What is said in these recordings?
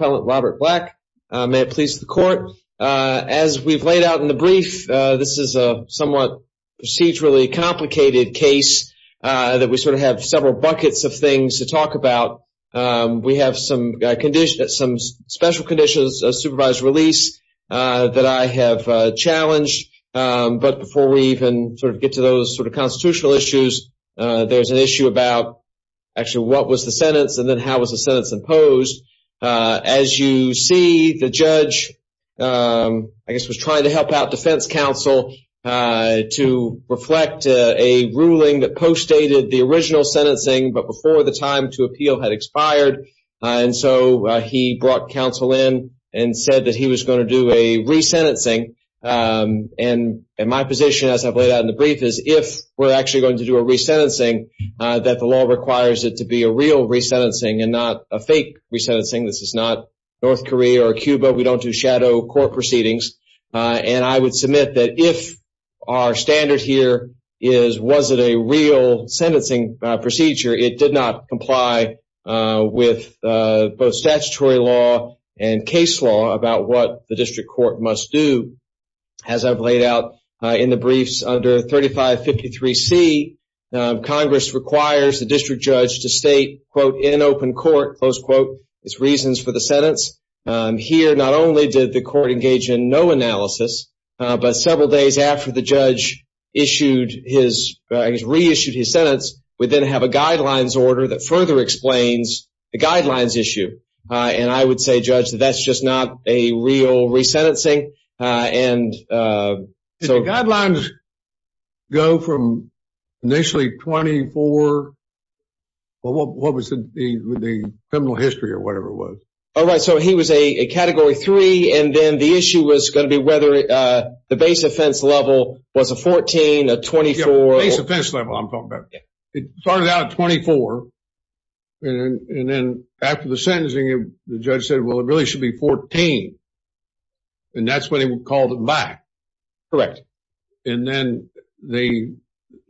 May it please the court. As we've laid out in the brief, this is a somewhat procedurally complicated case that we sort of have several buckets of things to talk about. We have some special conditions of supervised release that I have challenged. But before we even sort of get to those sort of constitutional issues, there's an issue about actually what was the sentence and then how was the sentence imposed. As you see, the judge, I guess, was trying to help out defense counsel to reflect a ruling that postdated the original sentencing, but before the time to appeal had expired. And so he brought counsel in and said that he was going to do a resentencing. And my position, as I've laid out in the brief, is if we're actually going to do a resentencing, that the law requires it to be a real resentencing and not a fake resentencing. This is not North Korea or Cuba. We don't do shadow court proceedings. And I would submit that if our standard here is, was it a real sentencing procedure? It did not comply with both statutory law and case law about what the district court must do. As I've laid out in the briefs under 3553 C, Congress requires the district judge to state, quote, in open court, close quote, its reasons for the sentence. Here, not only did the court engage in no analysis, but several days after the judge issued his reissued his sentence, we then have a guidelines order that further explains the guidelines issue. And I would say, Judge, that's just not a real resentencing. And so guidelines go from initially 24. Well, what was the criminal history or whatever it was? All right. So he was a category three. And then the issue was going to be whether the base offense level was a 14, a 24. Base offense level, I'm talking about. It started out at 24. And then after the sentencing, the judge said, well, it really should be 14. And that's when he called it back. Correct. And then they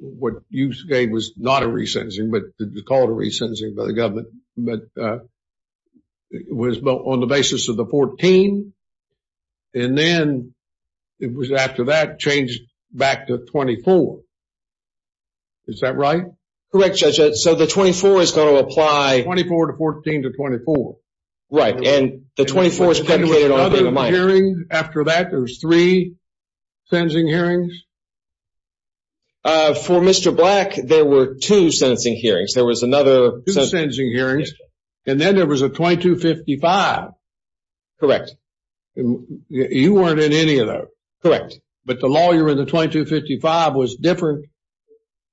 what you gave was not a resentencing, but the call to resensing by the government. But it was built on the basis of the 14. And then it was after that changed back to 24. Is that right? Correct, Judge. So the 24 is going to apply 24 to 14 to 24. Right. And the 24th hearing after that, there's three sentencing hearings. For Mr. Black, there were two sentencing hearings. There was another sentencing hearings. And then there was a 2255. Correct. You weren't in any of that. Correct. But the lawyer in the 2255 was different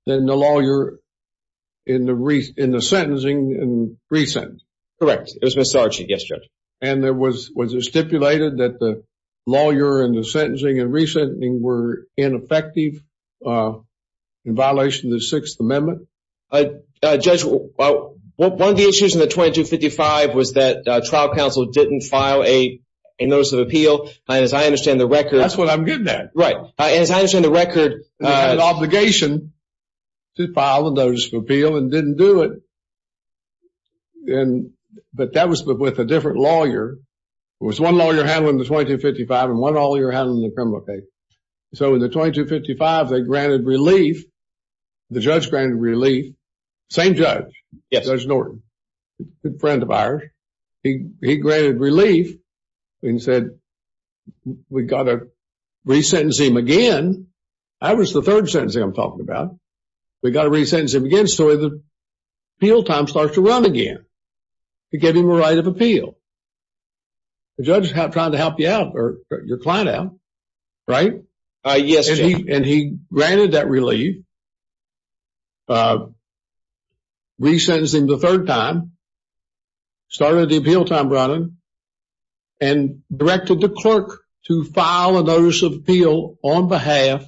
than the lawyer in the in the sentencing and resent. Correct. It was Miss Archie. Yes, Judge. And there was was it stipulated that the lawyer in the sentencing and resent were ineffective in violation of the Sixth Amendment? Judge, one of the issues in the 2255 was that trial counsel didn't file a notice of appeal. And as I understand the record. That's what I'm getting at. Right. As I understand the record. They had an obligation to file a notice of appeal and didn't do it. And but that was with a different lawyer. It was one lawyer handling the 2255 and one lawyer handling the criminal case. So in the 2255, they granted relief. The judge granted relief. Same judge. Yes, Judge Norton. Good friend of ours. He granted relief and said, we've got to resentence him again. I was the third sentencing I'm talking about. We've got to resentence him again. So the appeal time starts to run again to give him a right of appeal. The judge is trying to help you out or your client out. Right. Yes. And he granted that relief. Resentencing the third time. Started the appeal time running and directed the clerk to file a notice of appeal on behalf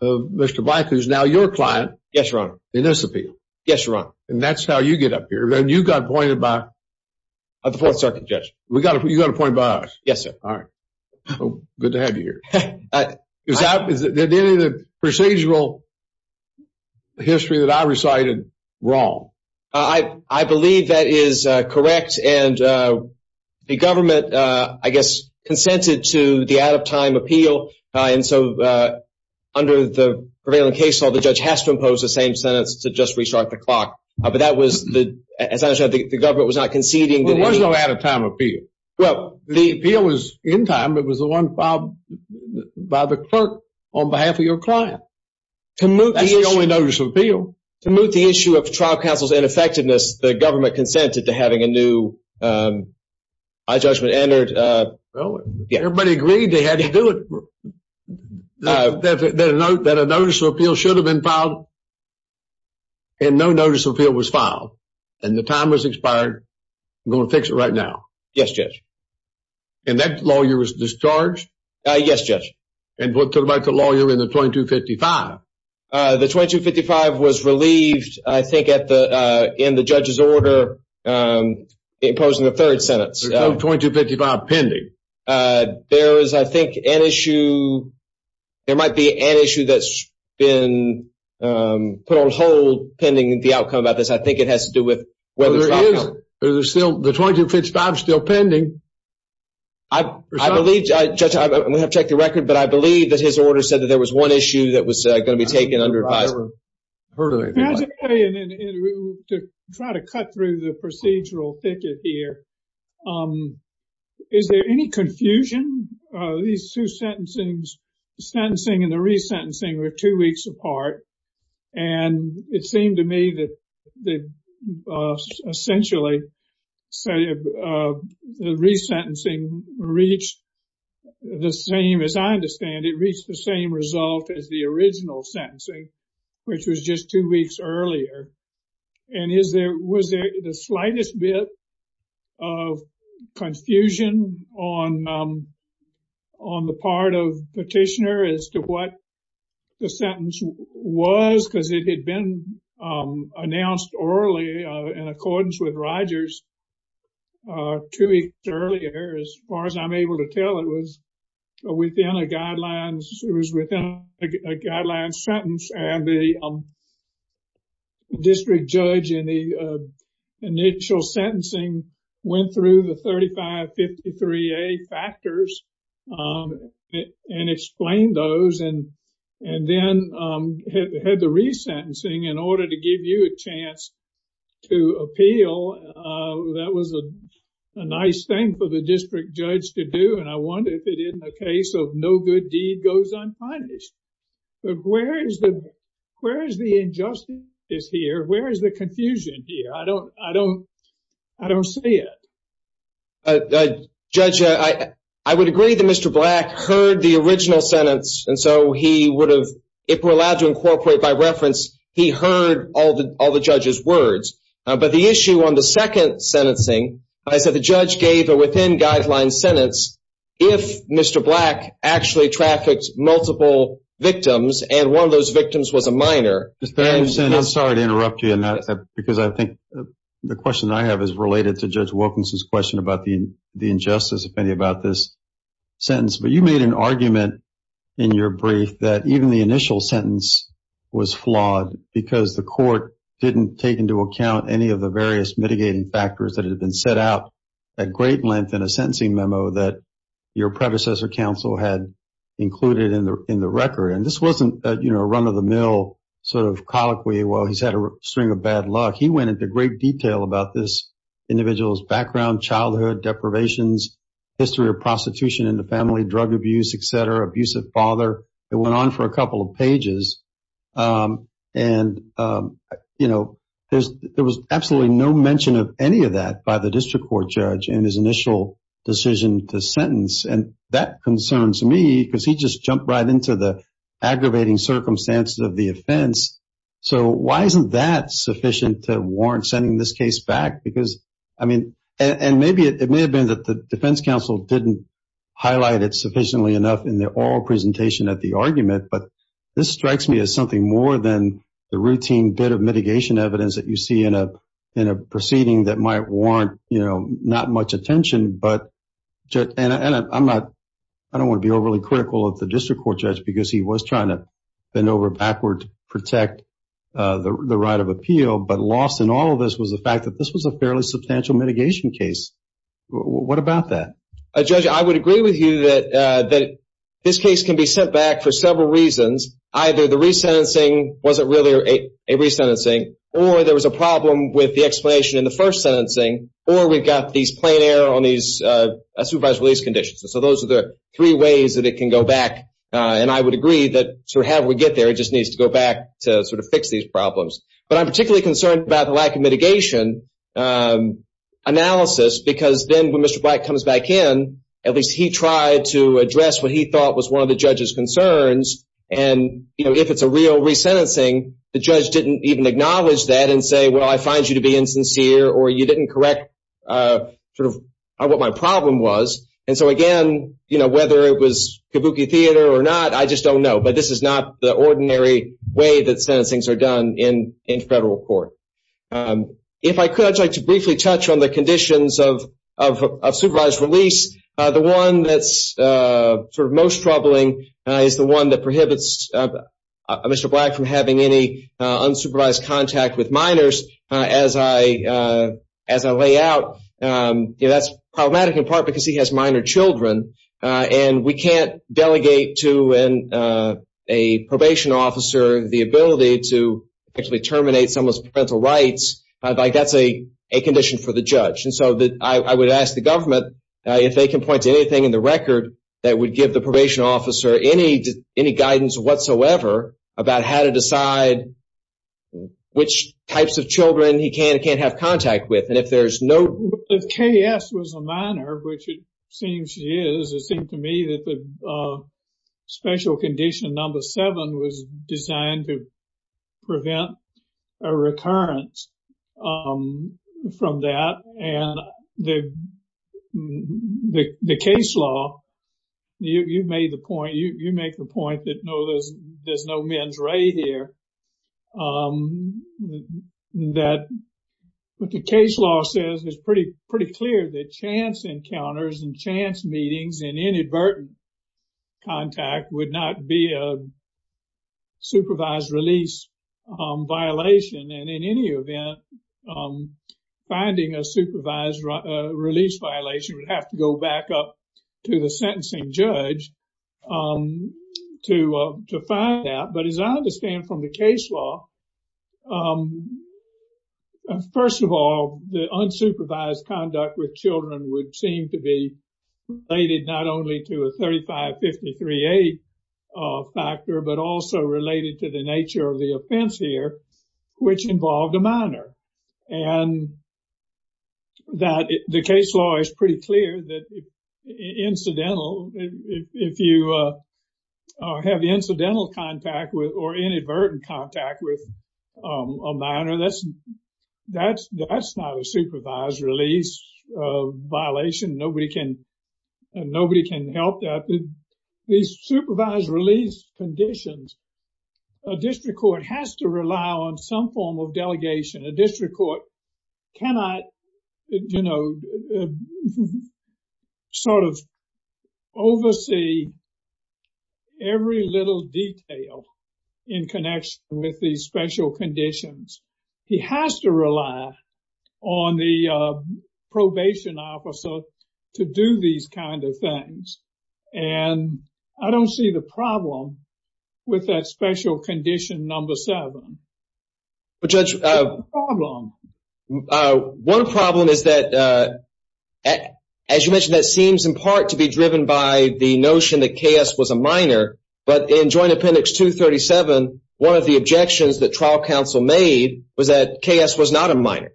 of Mr. Black, who's now your client. Yes, your honor. In this appeal. Yes, your honor. And that's how you get up here. And you got pointed by the fourth circuit judge. You got appointed by us. Yes, sir. All right. Good to have you here. Is there any procedural history that I recited wrong? I believe that is correct. And the government, I guess, consented to the out of time appeal. And so under the prevailing case law, the judge has to impose the same sentence to just restart the clock. But that was the as I said, the government was not conceding. There was no out of time appeal. Well, the appeal was in time. It was the one filed by the clerk on behalf of your client. That's the only notice of appeal. To move the issue of trial counsel's ineffectiveness, the government consented to having a new judgment entered. Everybody agreed they had to do it. That a notice of appeal should have been filed. And no notice of appeal was filed. And the time was expired. I'm going to fix it right now. Yes, Judge. And that lawyer was discharged? Yes, Judge. And what about the lawyer in the 2255? The 2255 was relieved, I think, in the judge's order imposing the third sentence. There's no 2255 pending. There is, I think, an issue. There might be an issue that's been put on hold pending the outcome of this. I think it has to do with whether the trial counsel. Well, there is. The 2255 is still pending. I believe, Judge, I'm going to have to check the record. But I believe that his order said that there was one issue that was going to be taken under advisory. I've heard of it. I have to tell you, to try to cut through the procedural thicket here. Is there any confusion? These two sentencing and the resentencing were two weeks apart. And it seemed to me that essentially the resentencing reached the same. As I understand, it reached the same result as the original sentencing, which was just two weeks earlier. And was there the slightest bit of confusion on the part of petitioner as to what the sentence was? Because it had been announced orally in accordance with Rogers two weeks earlier. As far as I'm able to tell, it was within a guideline sentence. And the district judge in the initial sentencing went through the 3553A factors and explained those. And then had the resentencing in order to give you a chance to appeal. That was a nice thing for the district judge to do. And I wonder if it isn't a case of no good deed goes unpunished. Where is the injustice here? Where is the confusion here? I don't see it. Judge, I would agree that Mr. Black heard the original sentence. And so he would have, if we're allowed to incorporate by reference, he heard all the judge's words. But the issue on the second sentencing, I said the judge gave a within guideline sentence. If Mr. Black actually trafficked multiple victims and one of those victims was a minor. I'm sorry to interrupt you. Because I think the question I have is related to Judge Wilkinson's question about the injustice, if any, about this sentence. But you made an argument in your brief that even the initial sentence was flawed. Because the court didn't take into account any of the various mitigating factors that had been set out at great length in a sentencing memo that your predecessor counsel had included in the record. And this wasn't a run-of-the-mill sort of colloquy, well, he's had a string of bad luck. He went into great detail about this individual's background, childhood, deprivations, history of prostitution in the family, drug abuse, et cetera, abusive father. It went on for a couple of pages. And, you know, there was absolutely no mention of any of that by the district court judge in his initial decision to sentence. And that concerns me because he just jumped right into the aggravating circumstances of the offense. So why isn't that sufficient to warrant sending this case back? Because, I mean, and maybe it may have been that the defense counsel didn't highlight it sufficiently enough in the oral presentation at the argument. But this strikes me as something more than the routine bit of mitigation evidence that you see in a proceeding that might warrant, you know, not much attention. And I don't want to be overly critical of the district court judge because he was trying to bend over backward to protect the right of appeal. But lost in all of this was the fact that this was a fairly substantial mitigation case. What about that? Judge, I would agree with you that this case can be sent back for several reasons. Either the resentencing wasn't really a resentencing, or there was a problem with the explanation in the first sentencing, or we've got these plain error on these supervised release conditions. So those are the three ways that it can go back. And I would agree that sort of however we get there, it just needs to go back to sort of fix these problems. But I'm particularly concerned about the lack of mitigation analysis because then when Mr. Black comes back in, at least he tried to address what he thought was one of the judge's concerns. And, you know, if it's a real resentencing, the judge didn't even acknowledge that and say, well, I find you to be insincere, or you didn't correct sort of what my problem was. And so, again, you know, whether it was kabuki theater or not, I just don't know. But this is not the ordinary way that sentencings are done in federal court. If I could, I'd like to briefly touch on the conditions of supervised release. The one that's sort of most troubling is the one that prohibits Mr. Black from having any unsupervised contact with minors. As I lay out, that's problematic in part because he has minor children, and we can't delegate to a probation officer the ability to actually terminate someone's parental rights. That's a condition for the judge. And so I would ask the government if they can point to anything in the record that would give the probation officer any guidance whatsoever about how to decide which types of children he can and can't have contact with. And if there's no... If K.S. was a minor, which it seems she is, it seems to me that the special condition number seven was designed to prevent a recurrence from that. And the case law, you made the point, you make the point that no, there's no men's ray here. That what the case law says is pretty clear that chance encounters and chance meetings and inadvertent contact would not be a supervised release violation. And in any event, finding a supervised release violation would have to go back up to the sentencing judge to find out. But as I understand from the case law, first of all, the unsupervised conduct with children would seem to be related not only to a 35-53-8 factor, but also related to the nature of the offense here, which involved a minor. And the case law is pretty clear that incidental, if you have incidental contact with or inadvertent contact with a minor, that's not a supervised release violation. Nobody can help that. These supervised release conditions, a district court has to rely on some form of delegation. A district court cannot, you know, sort of oversee every little detail in connection with these special conditions. He has to rely on the probation officer to do these kind of things. And I don't see the problem with that special condition number seven. Judge, one problem is that, as you mentioned, that seems in part to be driven by the notion that K.S. was a minor. But in Joint Appendix 237, one of the objections that trial counsel made was that K.S. was not a minor.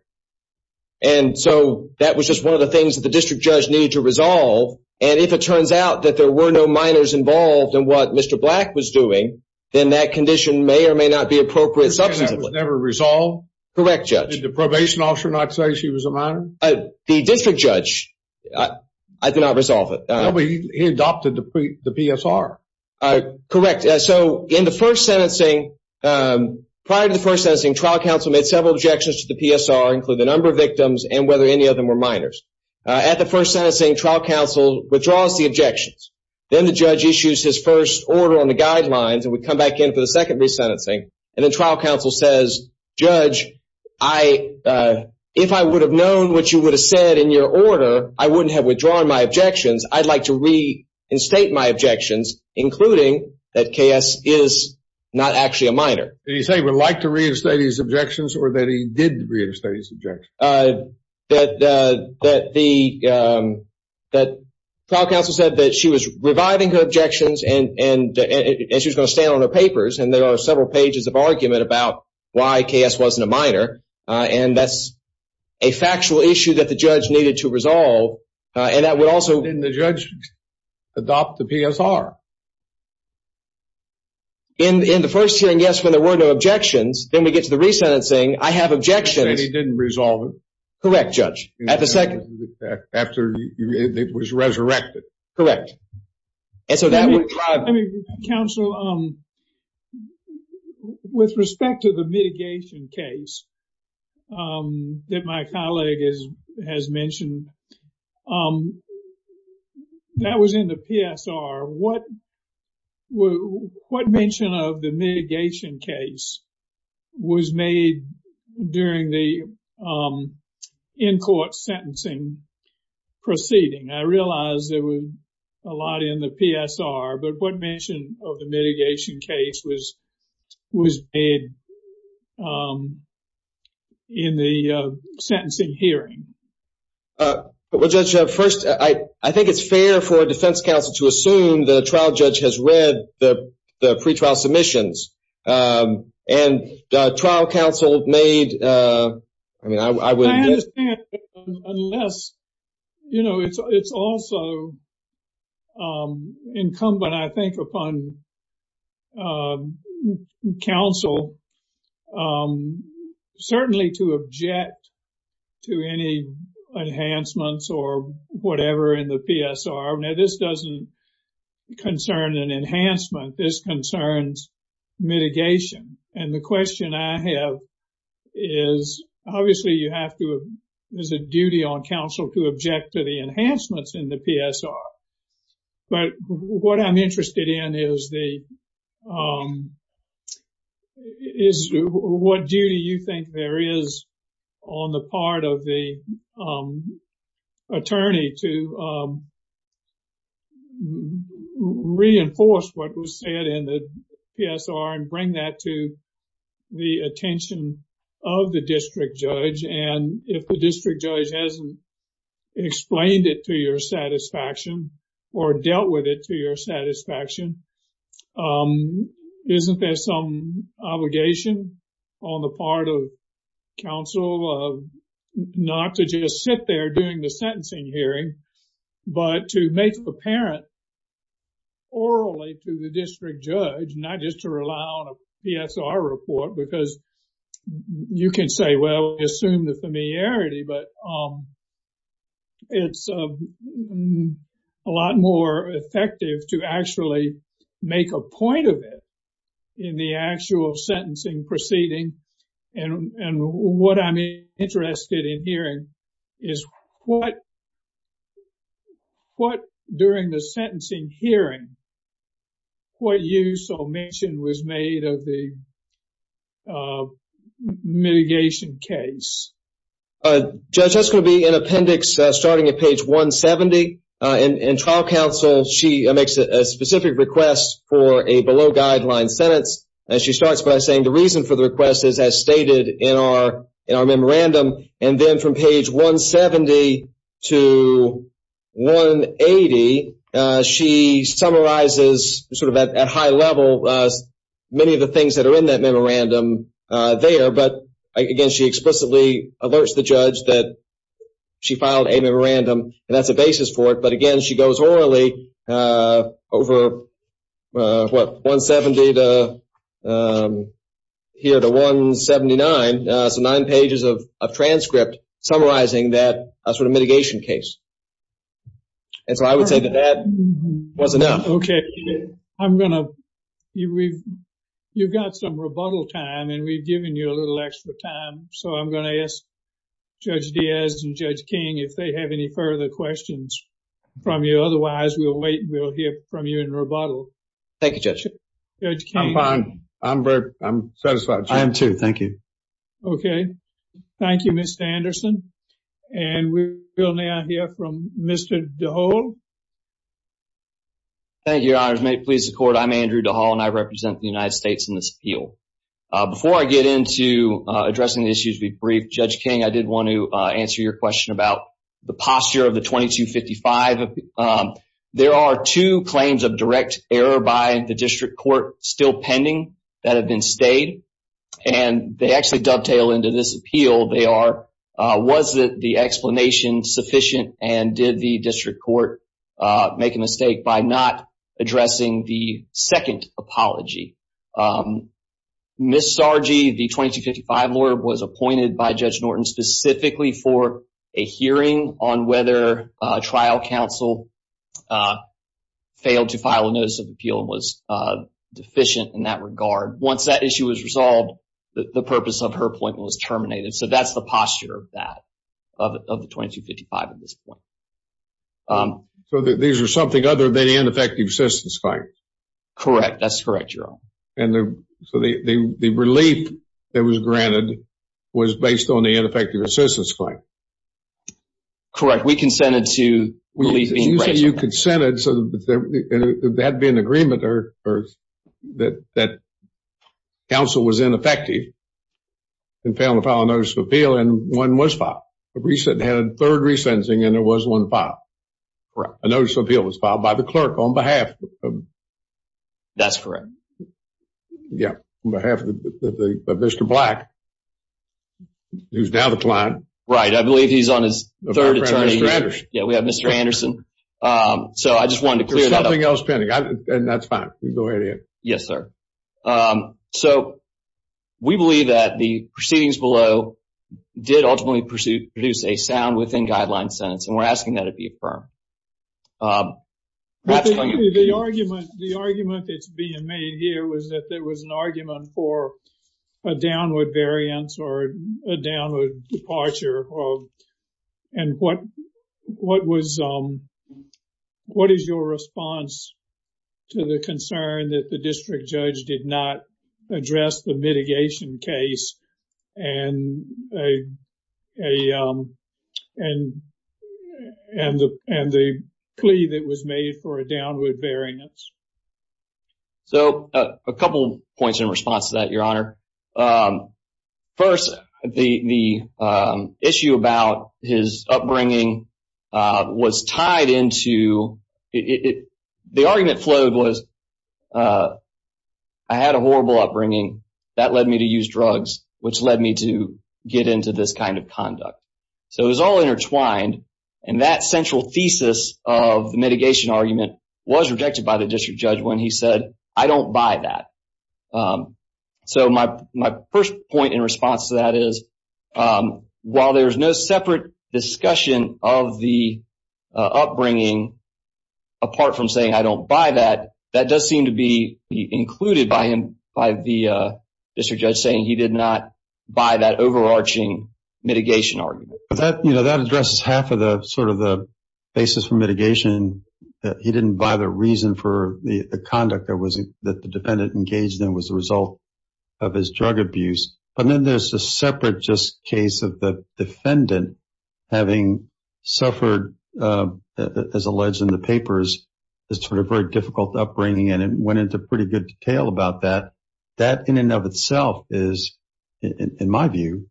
And so that was just one of the things that the district judge needed to resolve. And if it turns out that there were no minors involved in what Mr. Black was doing, then that condition may or may not be appropriate substantively. That was never resolved? Correct, Judge. Did the probation officer not say she was a minor? The district judge did not resolve it. No, but he adopted the PSR. Correct. So in the first sentencing, prior to the first sentencing, trial counsel made several objections to the PSR, including the number of victims and whether any of them were minors. At the first sentencing, trial counsel withdraws the objections. Then the judge issues his first order on the guidelines, and we come back in for the second resentencing, and then trial counsel says, Judge, if I would have known what you would have said in your order, I wouldn't have withdrawn my objections. I'd like to reinstate my objections, including that K.S. is not actually a minor. Did he say he would like to reinstate his objections or that he did reinstate his objections? The trial counsel said that she was reviving her objections and she was going to stand on her papers, and there are several pages of argument about why K.S. wasn't a minor, and that's a factual issue that the judge needed to resolve. Didn't the judge adopt the PSR? In the first hearing, yes, when there were no objections. Then we get to the resentencing. I have objections. He said he didn't resolve it. Correct, Judge. At the second? After it was resurrected. Correct. And so that would drive it. Counsel, with respect to the mitigation case that my colleague has mentioned, that was in the PSR. What mention of the mitigation case was made during the in-court sentencing proceeding? I realize there was a lot in the PSR, but what mention of the mitigation case was made in the sentencing hearing? Well, Judge, first, I think it's fair for a defense counsel to assume the trial judge has read the pretrial submissions. And the trial counsel made, I mean, I would… I can't unless, you know, it's also incumbent, I think, upon counsel certainly to object to any enhancements or whatever in the PSR. Now, this doesn't concern an enhancement. This concerns mitigation. And the question I have is, obviously, you have to… There's a duty on counsel to object to the enhancements in the PSR. But what I'm interested in is what duty you think there is on the part of the attorney to reinforce what was said in the PSR and bring that to the attention of the district judge. And if the district judge hasn't explained it to your satisfaction or dealt with it to your satisfaction, isn't there some obligation on the part of counsel not to just sit there during the sentencing hearing, but to make apparent orally to the district judge, not just to rely on a PSR report, because you can say, well, assume the familiarity, but it's a lot more effective to actually make a point of it in the actual sentencing proceeding. And what I'm interested in hearing is what, during the sentencing hearing, what use or omission was made of the mitigation case? Judge, that's going to be in appendix starting at page 170. In trial counsel, she makes a specific request for a below-guideline sentence. And she starts by saying the reason for the request is as stated in our memorandum. And then from page 170 to 180, she summarizes sort of at high level many of the things that are in that memorandum there. But, again, she explicitly alerts the judge that she filed a memorandum, and that's a basis for it. But, again, she goes orally over, what, 170 to here to 179, so nine pages of transcript summarizing that sort of mitigation case. And so I would say that that was enough. Okay. I'm going to – you've got some rebuttal time, and we've given you a little extra time. So I'm going to ask Judge Diaz and Judge King if they have any further questions from you. Otherwise, we'll wait and we'll hear from you in rebuttal. Thank you, Judge. Judge King. I'm fine. I'm satisfied, Judge. I am, too. Thank you. Okay. Thank you, Mr. Anderson. And we will now hear from Mr. DeHaul. Thank you, Your Honors. May it please the Court, I'm Andrew DeHaul, and I represent the United States in this appeal. Before I get into addressing the issues we've briefed, Judge King, I did want to answer your question about the posture of the 2255. There are two claims of direct error by the district court still pending that have been stayed, and they actually dovetail into this appeal. They are, was the explanation sufficient and did the district court make a mistake by not addressing the second apology? Ms. Sargi, the 2255 lawyer, was appointed by Judge Norton specifically for a hearing on whether trial counsel failed to file a notice of appeal and was deficient in that regard. Once that issue was resolved, the purpose of her appointment was terminated. So that's the posture of that, of the 2255 at this point. So these are something other than ineffective assistance claims? Correct. That's correct, Your Honor. And so the relief that was granted was based on the ineffective assistance claim? Correct. We consented to relief being granted. You said you consented, so there had to be an agreement that counsel was ineffective and failed to file a notice of appeal, and one was filed. They had a third resentencing, and there was one filed. Correct. A notice of appeal was filed by the clerk on behalf. That's correct. Yeah, on behalf of Mr. Black, who's now the client. Right. I believe he's on his third attorney. Yeah, we have Mr. Anderson. So I just wanted to clear that up. There's something else pending, and that's fine. Go ahead, Ian. Yes, sir. So we believe that the proceedings below did ultimately produce a sound within guidelines sentence, and we're asking that it be affirmed. The argument that's being made here was that there was an argument for a downward variance or a downward departure, and what is your response to the concern that the district judge did not address the mitigation case and the plea that was made for a downward variance? So a couple points in response to that, Your Honor. First, the issue about his upbringing was tied into – the argument flowed was, I had a horrible upbringing. That led me to use drugs, which led me to get into this kind of conduct. So it was all intertwined, and that central thesis of the mitigation argument was rejected by the district judge when he said, I don't buy that. So my first point in response to that is, while there's no separate discussion of the upbringing, apart from saying, I don't buy that, that does seem to be included by the district judge saying he did not buy that overarching mitigation argument. But that addresses half of the basis for mitigation, that he didn't buy the reason for the conduct that the defendant engaged in was a result of his drug abuse. But then there's the separate just case of the defendant having suffered, as alleged in the papers, this sort of very difficult upbringing, and it went into pretty good detail about that. That in and of itself is, in my view,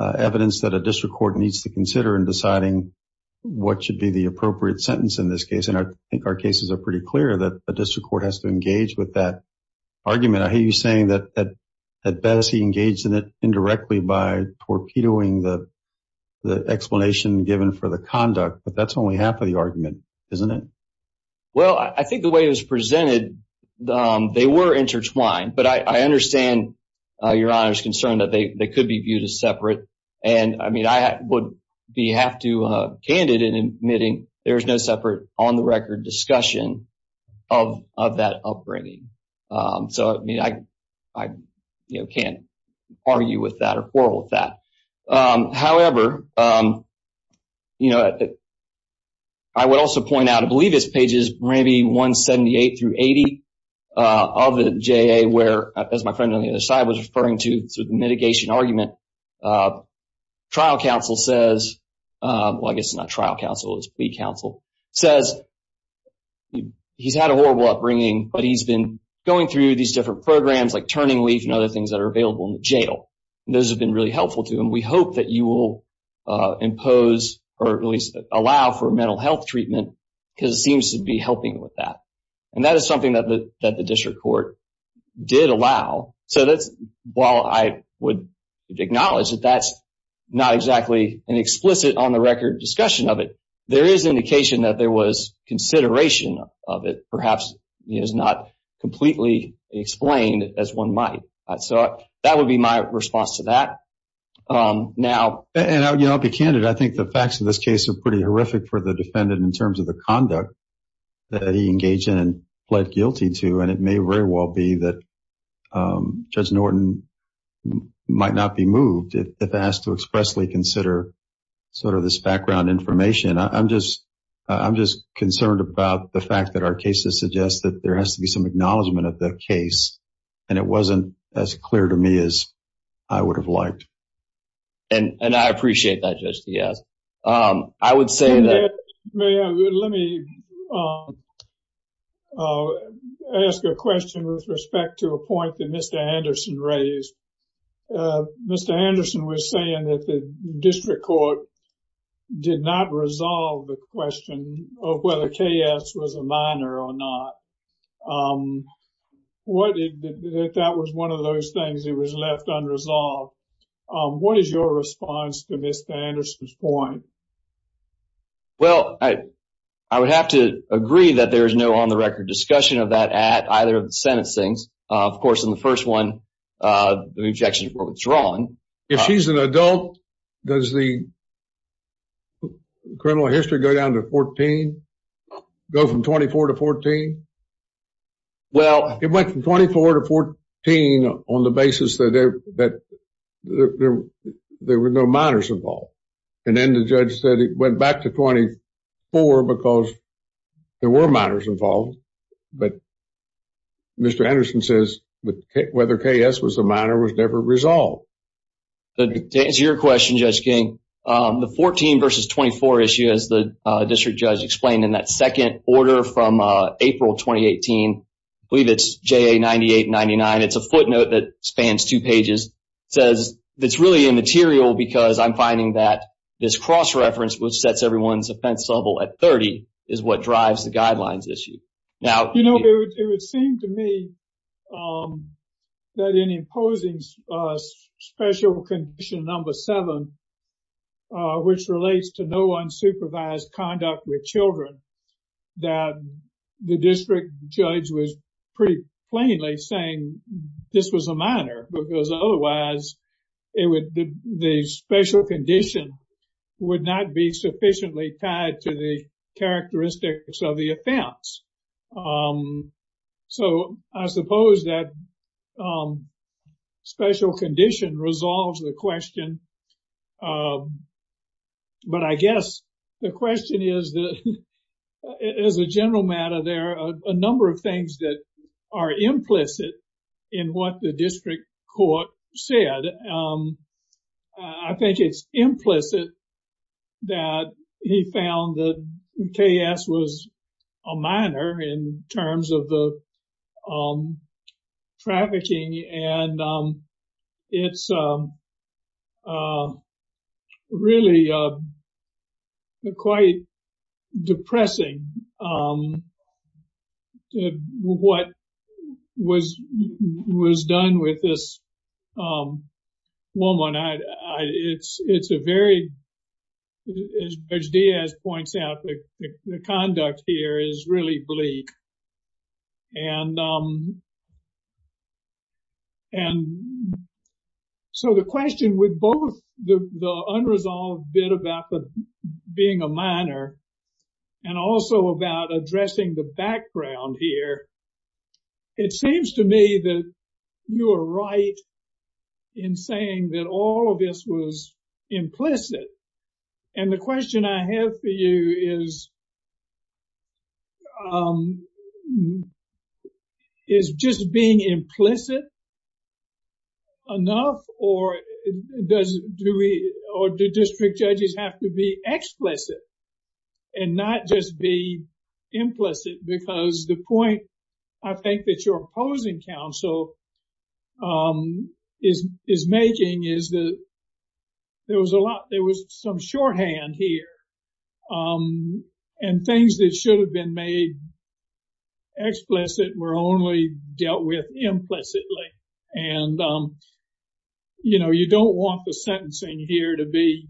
evidence that a district court needs to consider in deciding what should be the appropriate sentence in this case. And I think our cases are pretty clear that a district court has to engage with that argument. I hear you saying that Bessie engaged in it indirectly by torpedoing the explanation given for the conduct, but that's only half of the argument, isn't it? Well, I think the way it was presented, they were intertwined. But I understand Your Honor's concern that they could be viewed as separate. And, I mean, I would be half too candid in admitting there's no separate on-the-record discussion of that upbringing. So, I mean, I can't argue with that or quarrel with that. However, you know, I would also point out, I believe it's pages maybe 178 through 80 of the JA, where, as my friend on the other side was referring to through the mitigation argument, trial counsel says, well, I guess it's not trial counsel, it's plea counsel, says he's had a horrible upbringing, but he's been going through these different programs like Turning Leaf and other things that are available in the jail. Those have been really helpful to him. We hope that you will impose or at least allow for mental health treatment because it seems to be helping with that. And that is something that the district court did allow. So while I would acknowledge that that's not exactly an explicit on-the-record discussion of it, there is indication that there was consideration of it. Perhaps it is not completely explained as one might. So that would be my response to that. And I'll be candid, I think the facts of this case are pretty horrific for the defendant in terms of the conduct that he engaged in and pled guilty to, and it may very well be that Judge Norton might not be moved if asked to expressly consider sort of this background information. I'm just concerned about the fact that our cases suggest that there has to be some acknowledgement of the case, and it wasn't as clear to me as I would have liked. And I appreciate that, Judge Diaz. I would say that- May I? Let me ask a question with respect to a point that Mr. Anderson raised. Mr. Anderson was saying that the district court did not resolve the question of whether K.S. was a minor or not. That that was one of those things that was left unresolved. What is your response to Mr. Anderson's point? Well, I would have to agree that there is no on-the-record discussion of that at either of the sentencings. Of course, in the first one, the objections were withdrawn. If she's an adult, does the criminal history go down to 14? Go from 24 to 14? Well- It went from 24 to 14 on the basis that there were no minors involved. And then the judge said it went back to 24 because there were minors involved. But Mr. Anderson says whether K.S. was a minor was never resolved. To answer your question, Judge King, the 14 versus 24 issue, as the district judge explained in that second order from April 2018, I believe it's JA 98-99. It's a footnote that spans two pages. It's really immaterial because I'm finding that this cross-reference, which sets everyone's offense level at 30, is what drives the guidelines issue. You know, it would seem to me that in imposing special condition number seven, which relates to no unsupervised conduct with children, that the district judge was pretty plainly saying this was a minor because otherwise the special condition would not be sufficiently tied to the characteristics of the offense. So I suppose that special condition resolves the question. But I guess the question is that as a general matter, there are a number of things that are implicit in what the district court said. I think it's implicit that he found that K.S. was a minor in terms of the trafficking. And it's really quite depressing what was done with this woman. It's a very, as Judge Diaz points out, the conduct here is really bleak. And so the question with both the unresolved bit about being a minor and also about addressing the background here, it seems to me that you are right in saying that all of this was implicit. And the question I have for you is, is just being implicit enough or do district judges have to be explicit and not just be implicit? Because the point I think that your opposing counsel is making is that there was a lot, there was some shorthand here and things that should have been made explicit were only dealt with implicitly. And, you know, you don't want the sentencing here to be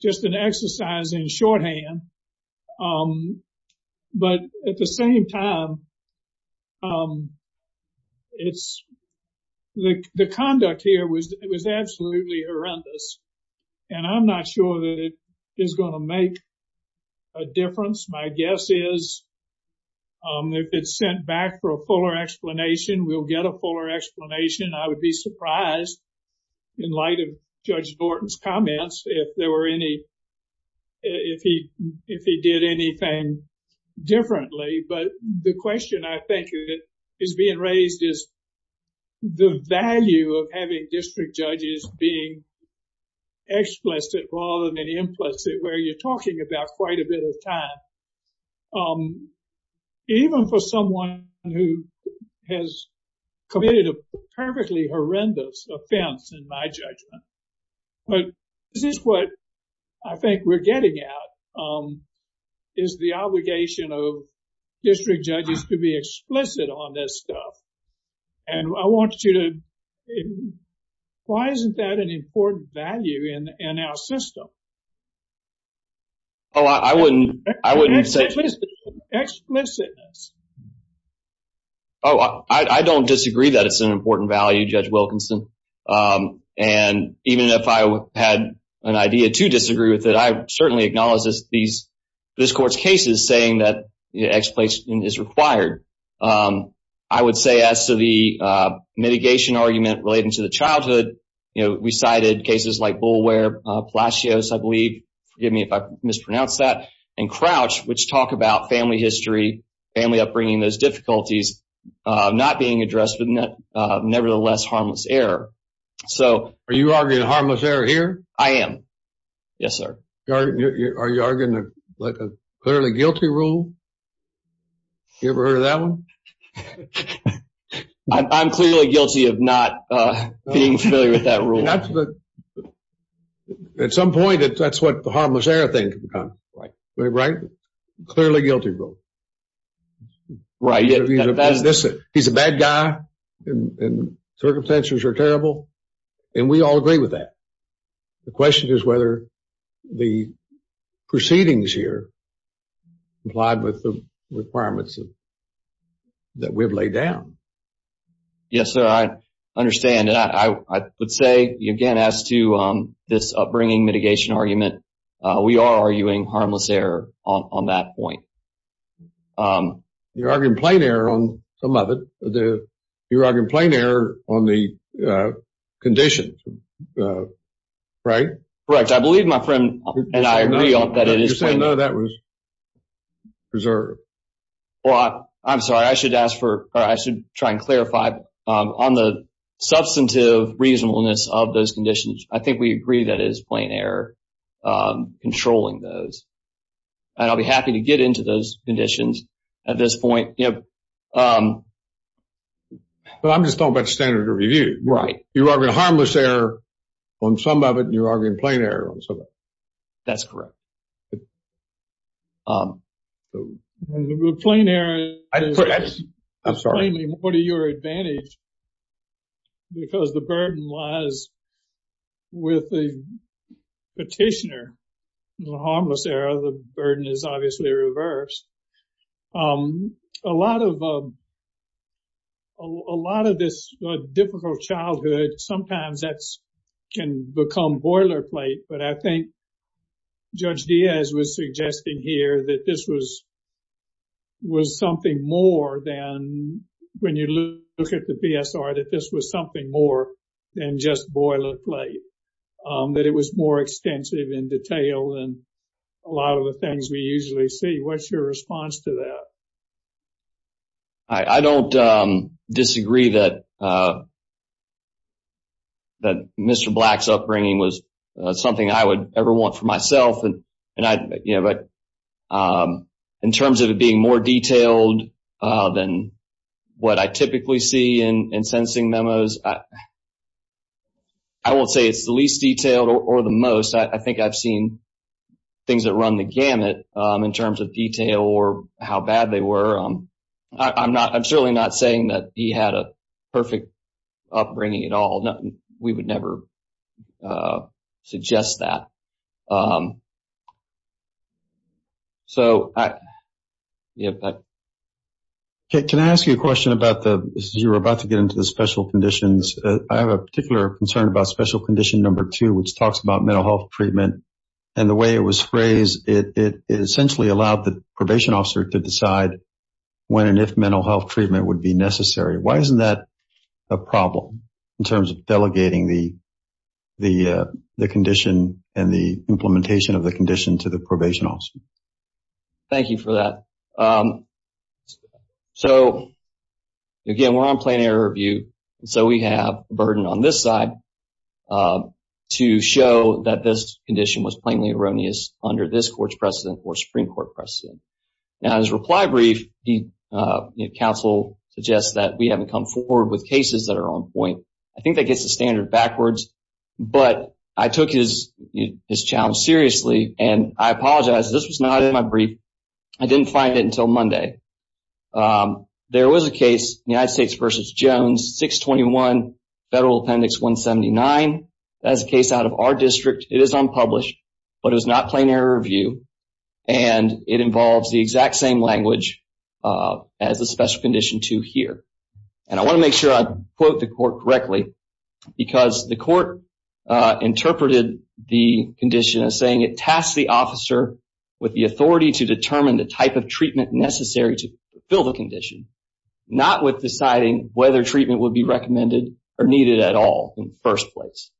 just an exercise in shorthand. But at the same time, the conduct here was absolutely horrendous. And I'm not sure that it is going to make a difference. My guess is if it's sent back for a fuller explanation, we'll get a fuller explanation. I would be surprised in light of Judge Norton's comments if there were any, if he did anything differently. But the question I think is being raised is the value of having district judges being explicit rather than implicit, where you're talking about quite a bit of time. Even for someone who has committed a perfectly horrendous offense, in my judgment. But this is what I think we're getting at, is the obligation of district judges to be explicit on this stuff. And I want you to, why isn't that an important value in our system? Oh, I wouldn't, I wouldn't say. Explicitness. Oh, I don't disagree that it's an important value, Judge Wilkinson. And even if I had an idea to disagree with it, I certainly acknowledge this, this court's cases saying that explanation is required. I would say as to the mitigation argument relating to the childhood, you know, we cited cases like Bullware, Palacios, I believe, forgive me if I mispronounce that, and Crouch, which talk about family history, family upbringing, those difficulties not being addressed, but nevertheless harmless error. So. Are you arguing harmless error here? I am. Yes, sir. Are you arguing a clearly guilty rule? You ever heard of that one? I'm clearly guilty of not being familiar with that rule. At some point, that's what the harmless error thing, right? Clearly guilty rule. Right. He's a bad guy, and circumstances are terrible, and we all agree with that. The question is whether the proceedings here complied with the requirements that we've laid down. Yes, sir. I understand. I would say, again, as to this upbringing mitigation argument, we are arguing harmless error on that point. You're arguing plain error on some of it. You're arguing plain error on the conditions, right? Correct. I believe my friend and I agree that it is plain error. You're saying, no, that was preserved. Well, I'm sorry. I should try and clarify. On the substantive reasonableness of those conditions, I think we agree that it is plain error controlling those. And I'll be happy to get into those conditions at this point. But I'm just talking about standard of review. You're arguing harmless error on some of it, and you're arguing plain error on some of it. That's correct. I'm sorry. What are your advantages? Because the burden lies with the petitioner. In the harmless error, the burden is obviously reversed. A lot of this difficult childhood, sometimes that can become boilerplate. But I think Judge Diaz was suggesting here that this was something more than, when you look at the PSR, that this was something more than just boilerplate. That it was more extensive in detail than a lot of the things we usually see. What's your response to that? I don't disagree that Mr. Black's upbringing was something I would ever want for myself. In terms of it being more detailed than what I typically see in sentencing memos, I won't say it's the least detailed or the most. I think I've seen things that run the gamut in terms of detail or how bad they were. I'm certainly not saying that he had a perfect upbringing at all. We would never suggest that. Can I ask you a question? You were about to get into the special conditions. I have a particular concern about special condition number two, which talks about mental health treatment. The way it was phrased, it essentially allowed the probation officer to decide when and if mental health treatment would be necessary. Why isn't that a problem in terms of delegating the condition and the implementation of the condition to the probation officer? Thank you for that. Again, we're on plain error review, so we have a burden on this side to show that this condition was plainly erroneous under this court's precedent or Supreme Court precedent. In his reply brief, counsel suggests that we haven't come forward with cases that are on point. I think that gets the standard backwards, but I took his challenge seriously. I apologize. This was not in my brief. I didn't find it until Monday. There was a case, United States v. Jones, 621 Federal Appendix 179. That is a case out of our district. It is unpublished, but it was not plain error review, and it involves the exact same language as the special condition two here. I want to make sure I quote the court correctly, because the court interpreted the condition as saying it tasked the officer with the authority to determine the type of treatment necessary to fulfill the condition, not with deciding whether treatment would be recommended or needed at all in the first place.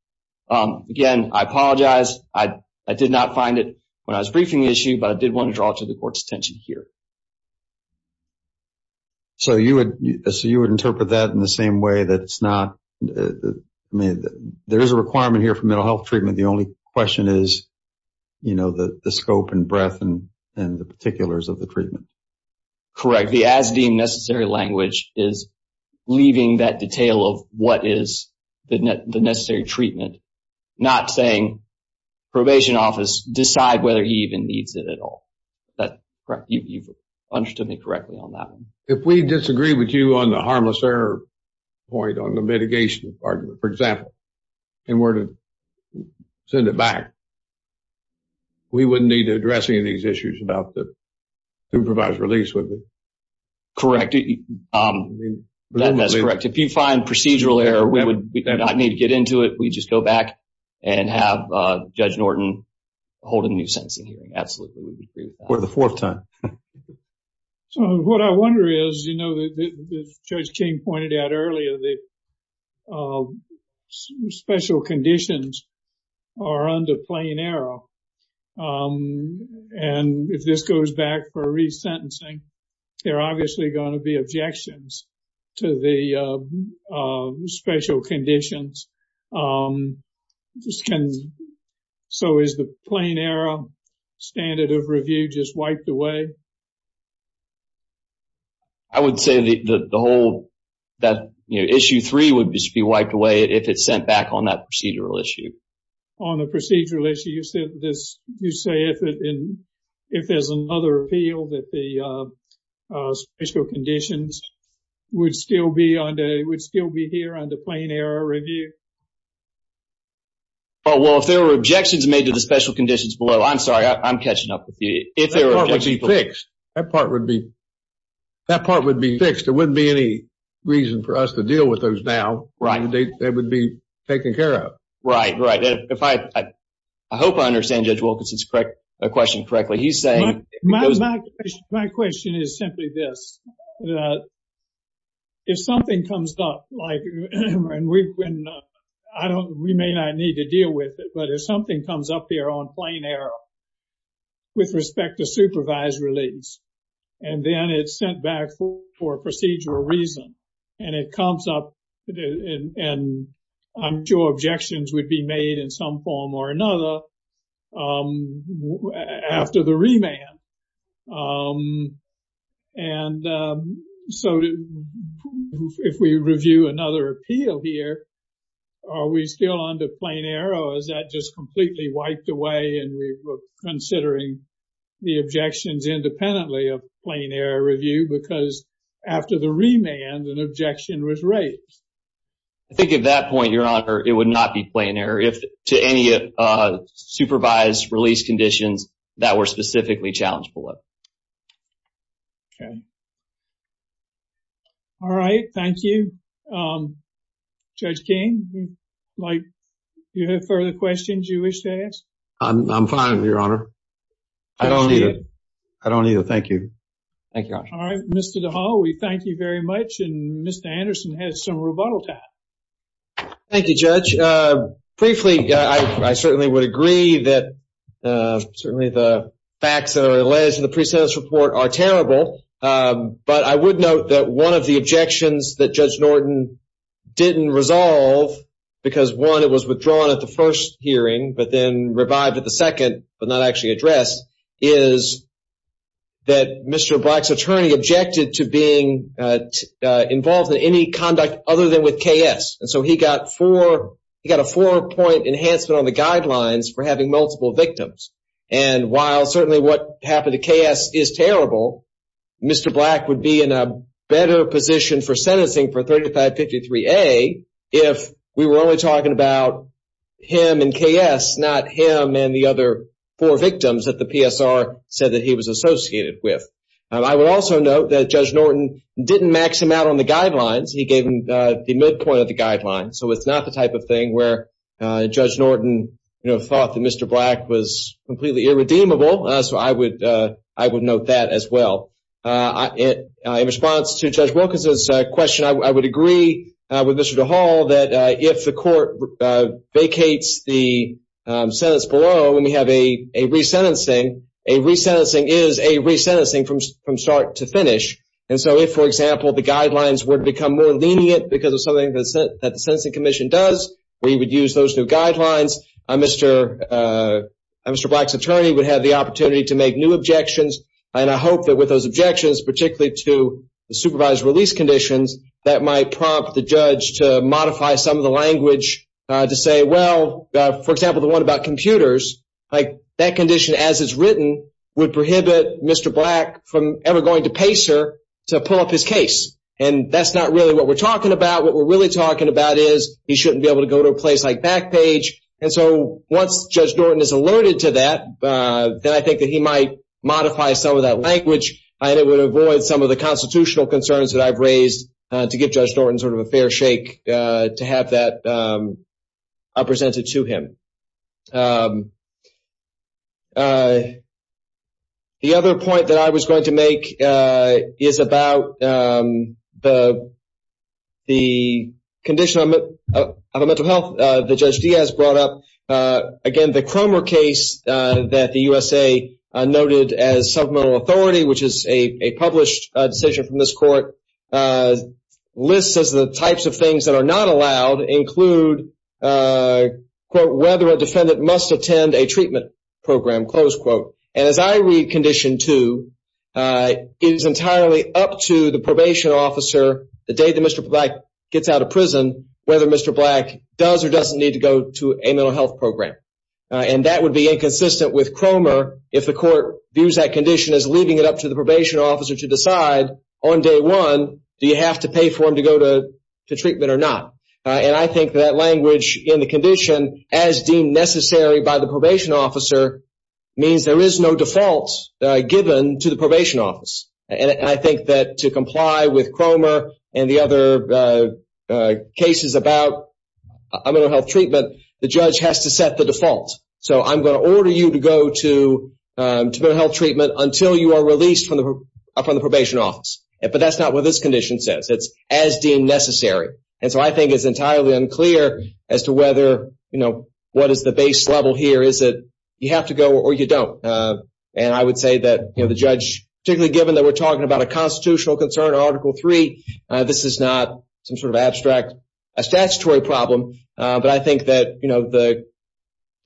Again, I apologize. I did not find it when I was briefing the issue, but I did want to draw to the court's attention here. So you would interpret that in the same way that it's not— I mean, there is a requirement here for mental health treatment. The only question is, you know, the scope and breadth and the particulars of the treatment. Correct. The as-deemed necessary language is leaving that detail of what is the necessary treatment, not saying probation office decide whether he even needs it at all. You've understood me correctly on that one. If we disagree with you on the harmless error point on the mitigation argument, for example, and were to send it back, we wouldn't need to address any of these issues about the supervised release, would we? Correct. That's correct. If you find procedural error, we would not need to get into it. We'd just go back and have Judge Norton hold a new sentencing hearing. Absolutely. For the fourth time. So what I wonder is, you know, as Judge King pointed out earlier, the special conditions are under plain error. And if this goes back for resentencing, there are obviously going to be objections to the special conditions. So is the plain error standard of review just wiped away? I would say that the whole issue three would be wiped away if it's sent back on that procedural issue. On the procedural issue, you say if there's another appeal that the special conditions would still be here under plain error review? Well, if there were objections made to the special conditions below, I'm sorry, I'm catching up with you. That part would be fixed. That part would be fixed. There wouldn't be any reason for us to deal with those now. They would be taken care of. Right, right. I hope I understand Judge Wilkinson's question correctly. My question is simply this. If something comes up like, and we may not need to deal with it, but if something comes up there on plain error with respect to supervised release, and then it's sent back for procedural reason, and it comes up and I'm sure objections would be made in some form or another after the remand. And so if we review another appeal here, are we still under plain error? Or is that just completely wiped away and we were considering the objections independently of plain error review? Because after the remand, an objection was raised. I think at that point, Your Honor, it would not be plain error. If to any supervised release conditions that were specifically challenged below. Okay. All right. Thank you. Judge King, do you have further questions you wish to ask? I'm fine, Your Honor. I don't either. I don't either. Thank you. Thank you, Your Honor. All right. Mr. DeHaul, we thank you very much. And Mr. Anderson has some rebuttal time. Thank you, Judge. Briefly, I certainly would agree that certainly the facts that are alleged in the pre-sentence report are terrible, but I would note that one of the objections that Judge Norton didn't resolve because, one, it was withdrawn at the first hearing but then revived at the second but not actually addressed, is that Mr. Black's attorney objected to being involved in any conduct other than with KS. And so he got a four-point enhancement on the guidelines for having multiple victims. And while certainly what happened to KS is terrible, Mr. Black would be in a better position for sentencing for 3553A if we were only talking about him and KS, not him and the other four victims that the PSR said that he was associated with. I will also note that Judge Norton didn't max him out on the guidelines. He gave him the midpoint of the guidelines. So it's not the type of thing where Judge Norton thought that Mr. Black was completely irredeemable. So I would note that as well. In response to Judge Wilkinson's question, I would agree with Mr. DeHaul that if the court vacates the sentence below and we have a resentencing, a resentencing is a resentencing from start to finish. And so if, for example, the guidelines were to become more lenient because of something that the Sentencing Commission does, we would use those new guidelines. Mr. Black's attorney would have the opportunity to make new objections. And I hope that with those objections, particularly to the supervised release conditions, that might prompt the judge to modify some of the language to say, well, for example, the one about computers, that condition as it's written would prohibit Mr. Black from ever going to PACER to pull up his case. And that's not really what we're talking about. What we're really talking about is he shouldn't be able to go to a place like Backpage. And so once Judge Norton is alerted to that, then I think that he might modify some of that language and it would avoid some of the constitutional concerns that I've raised to give Judge Norton sort of a fair shake to have that presented to him. The other point that I was going to make is about the condition of a mental health that Judge Diaz brought up. Again, the Cromer case that the USA noted as supplemental authority, which is a published decision from this court, lists as the types of things that are not allowed include, quote, whether a defendant must attend a treatment program, close quote. And as I read condition two, it is entirely up to the probation officer the day that Mr. Black gets out of prison whether Mr. Black does or doesn't need to go to a mental health program. And that would be inconsistent with Cromer if the court views that condition as leaving it up to the probation officer to decide on day one do you have to pay for him to go to treatment or not. And I think that language in the condition, as deemed necessary by the probation officer, means there is no default given to the probation office. And I think that to comply with Cromer and the other cases about mental health treatment, the judge has to set the default. So I'm going to order you to go to mental health treatment until you are released from the probation office. But that's not what this condition says. It's as deemed necessary. And so I think it's entirely unclear as to whether, you know, what is the base level here. Is it you have to go or you don't? And I would say that, you know, the judge, particularly given that we're talking about a constitutional concern, Article III, this is not some sort of abstract statutory problem. But I think that, you know,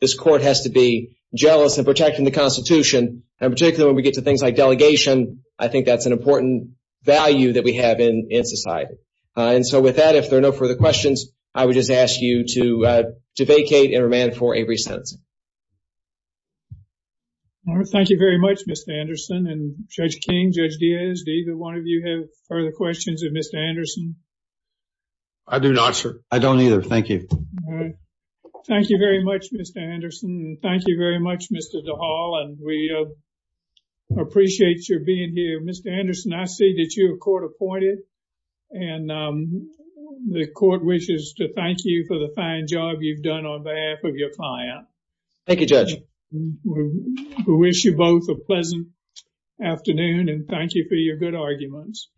this court has to be jealous of protecting the Constitution. And particularly when we get to things like delegation, I think that's an important value that we have in society. And so with that, if there are no further questions, I would just ask you to vacate and remand for every sentence. Thank you very much, Mr. Anderson. And Judge King, Judge Diaz, do either one of you have further questions of Mr. Anderson? I do not, sir. I don't either. Thank you. Thank you very much, Mr. Anderson. Thank you very much, Mr. DeHaul. And we appreciate your being here. Mr. Anderson, I see that you are court appointed. And the court wishes to thank you for the fine job you've done on behalf of your client. Thank you, Judge. We wish you both a pleasant afternoon. And thank you for your good arguments.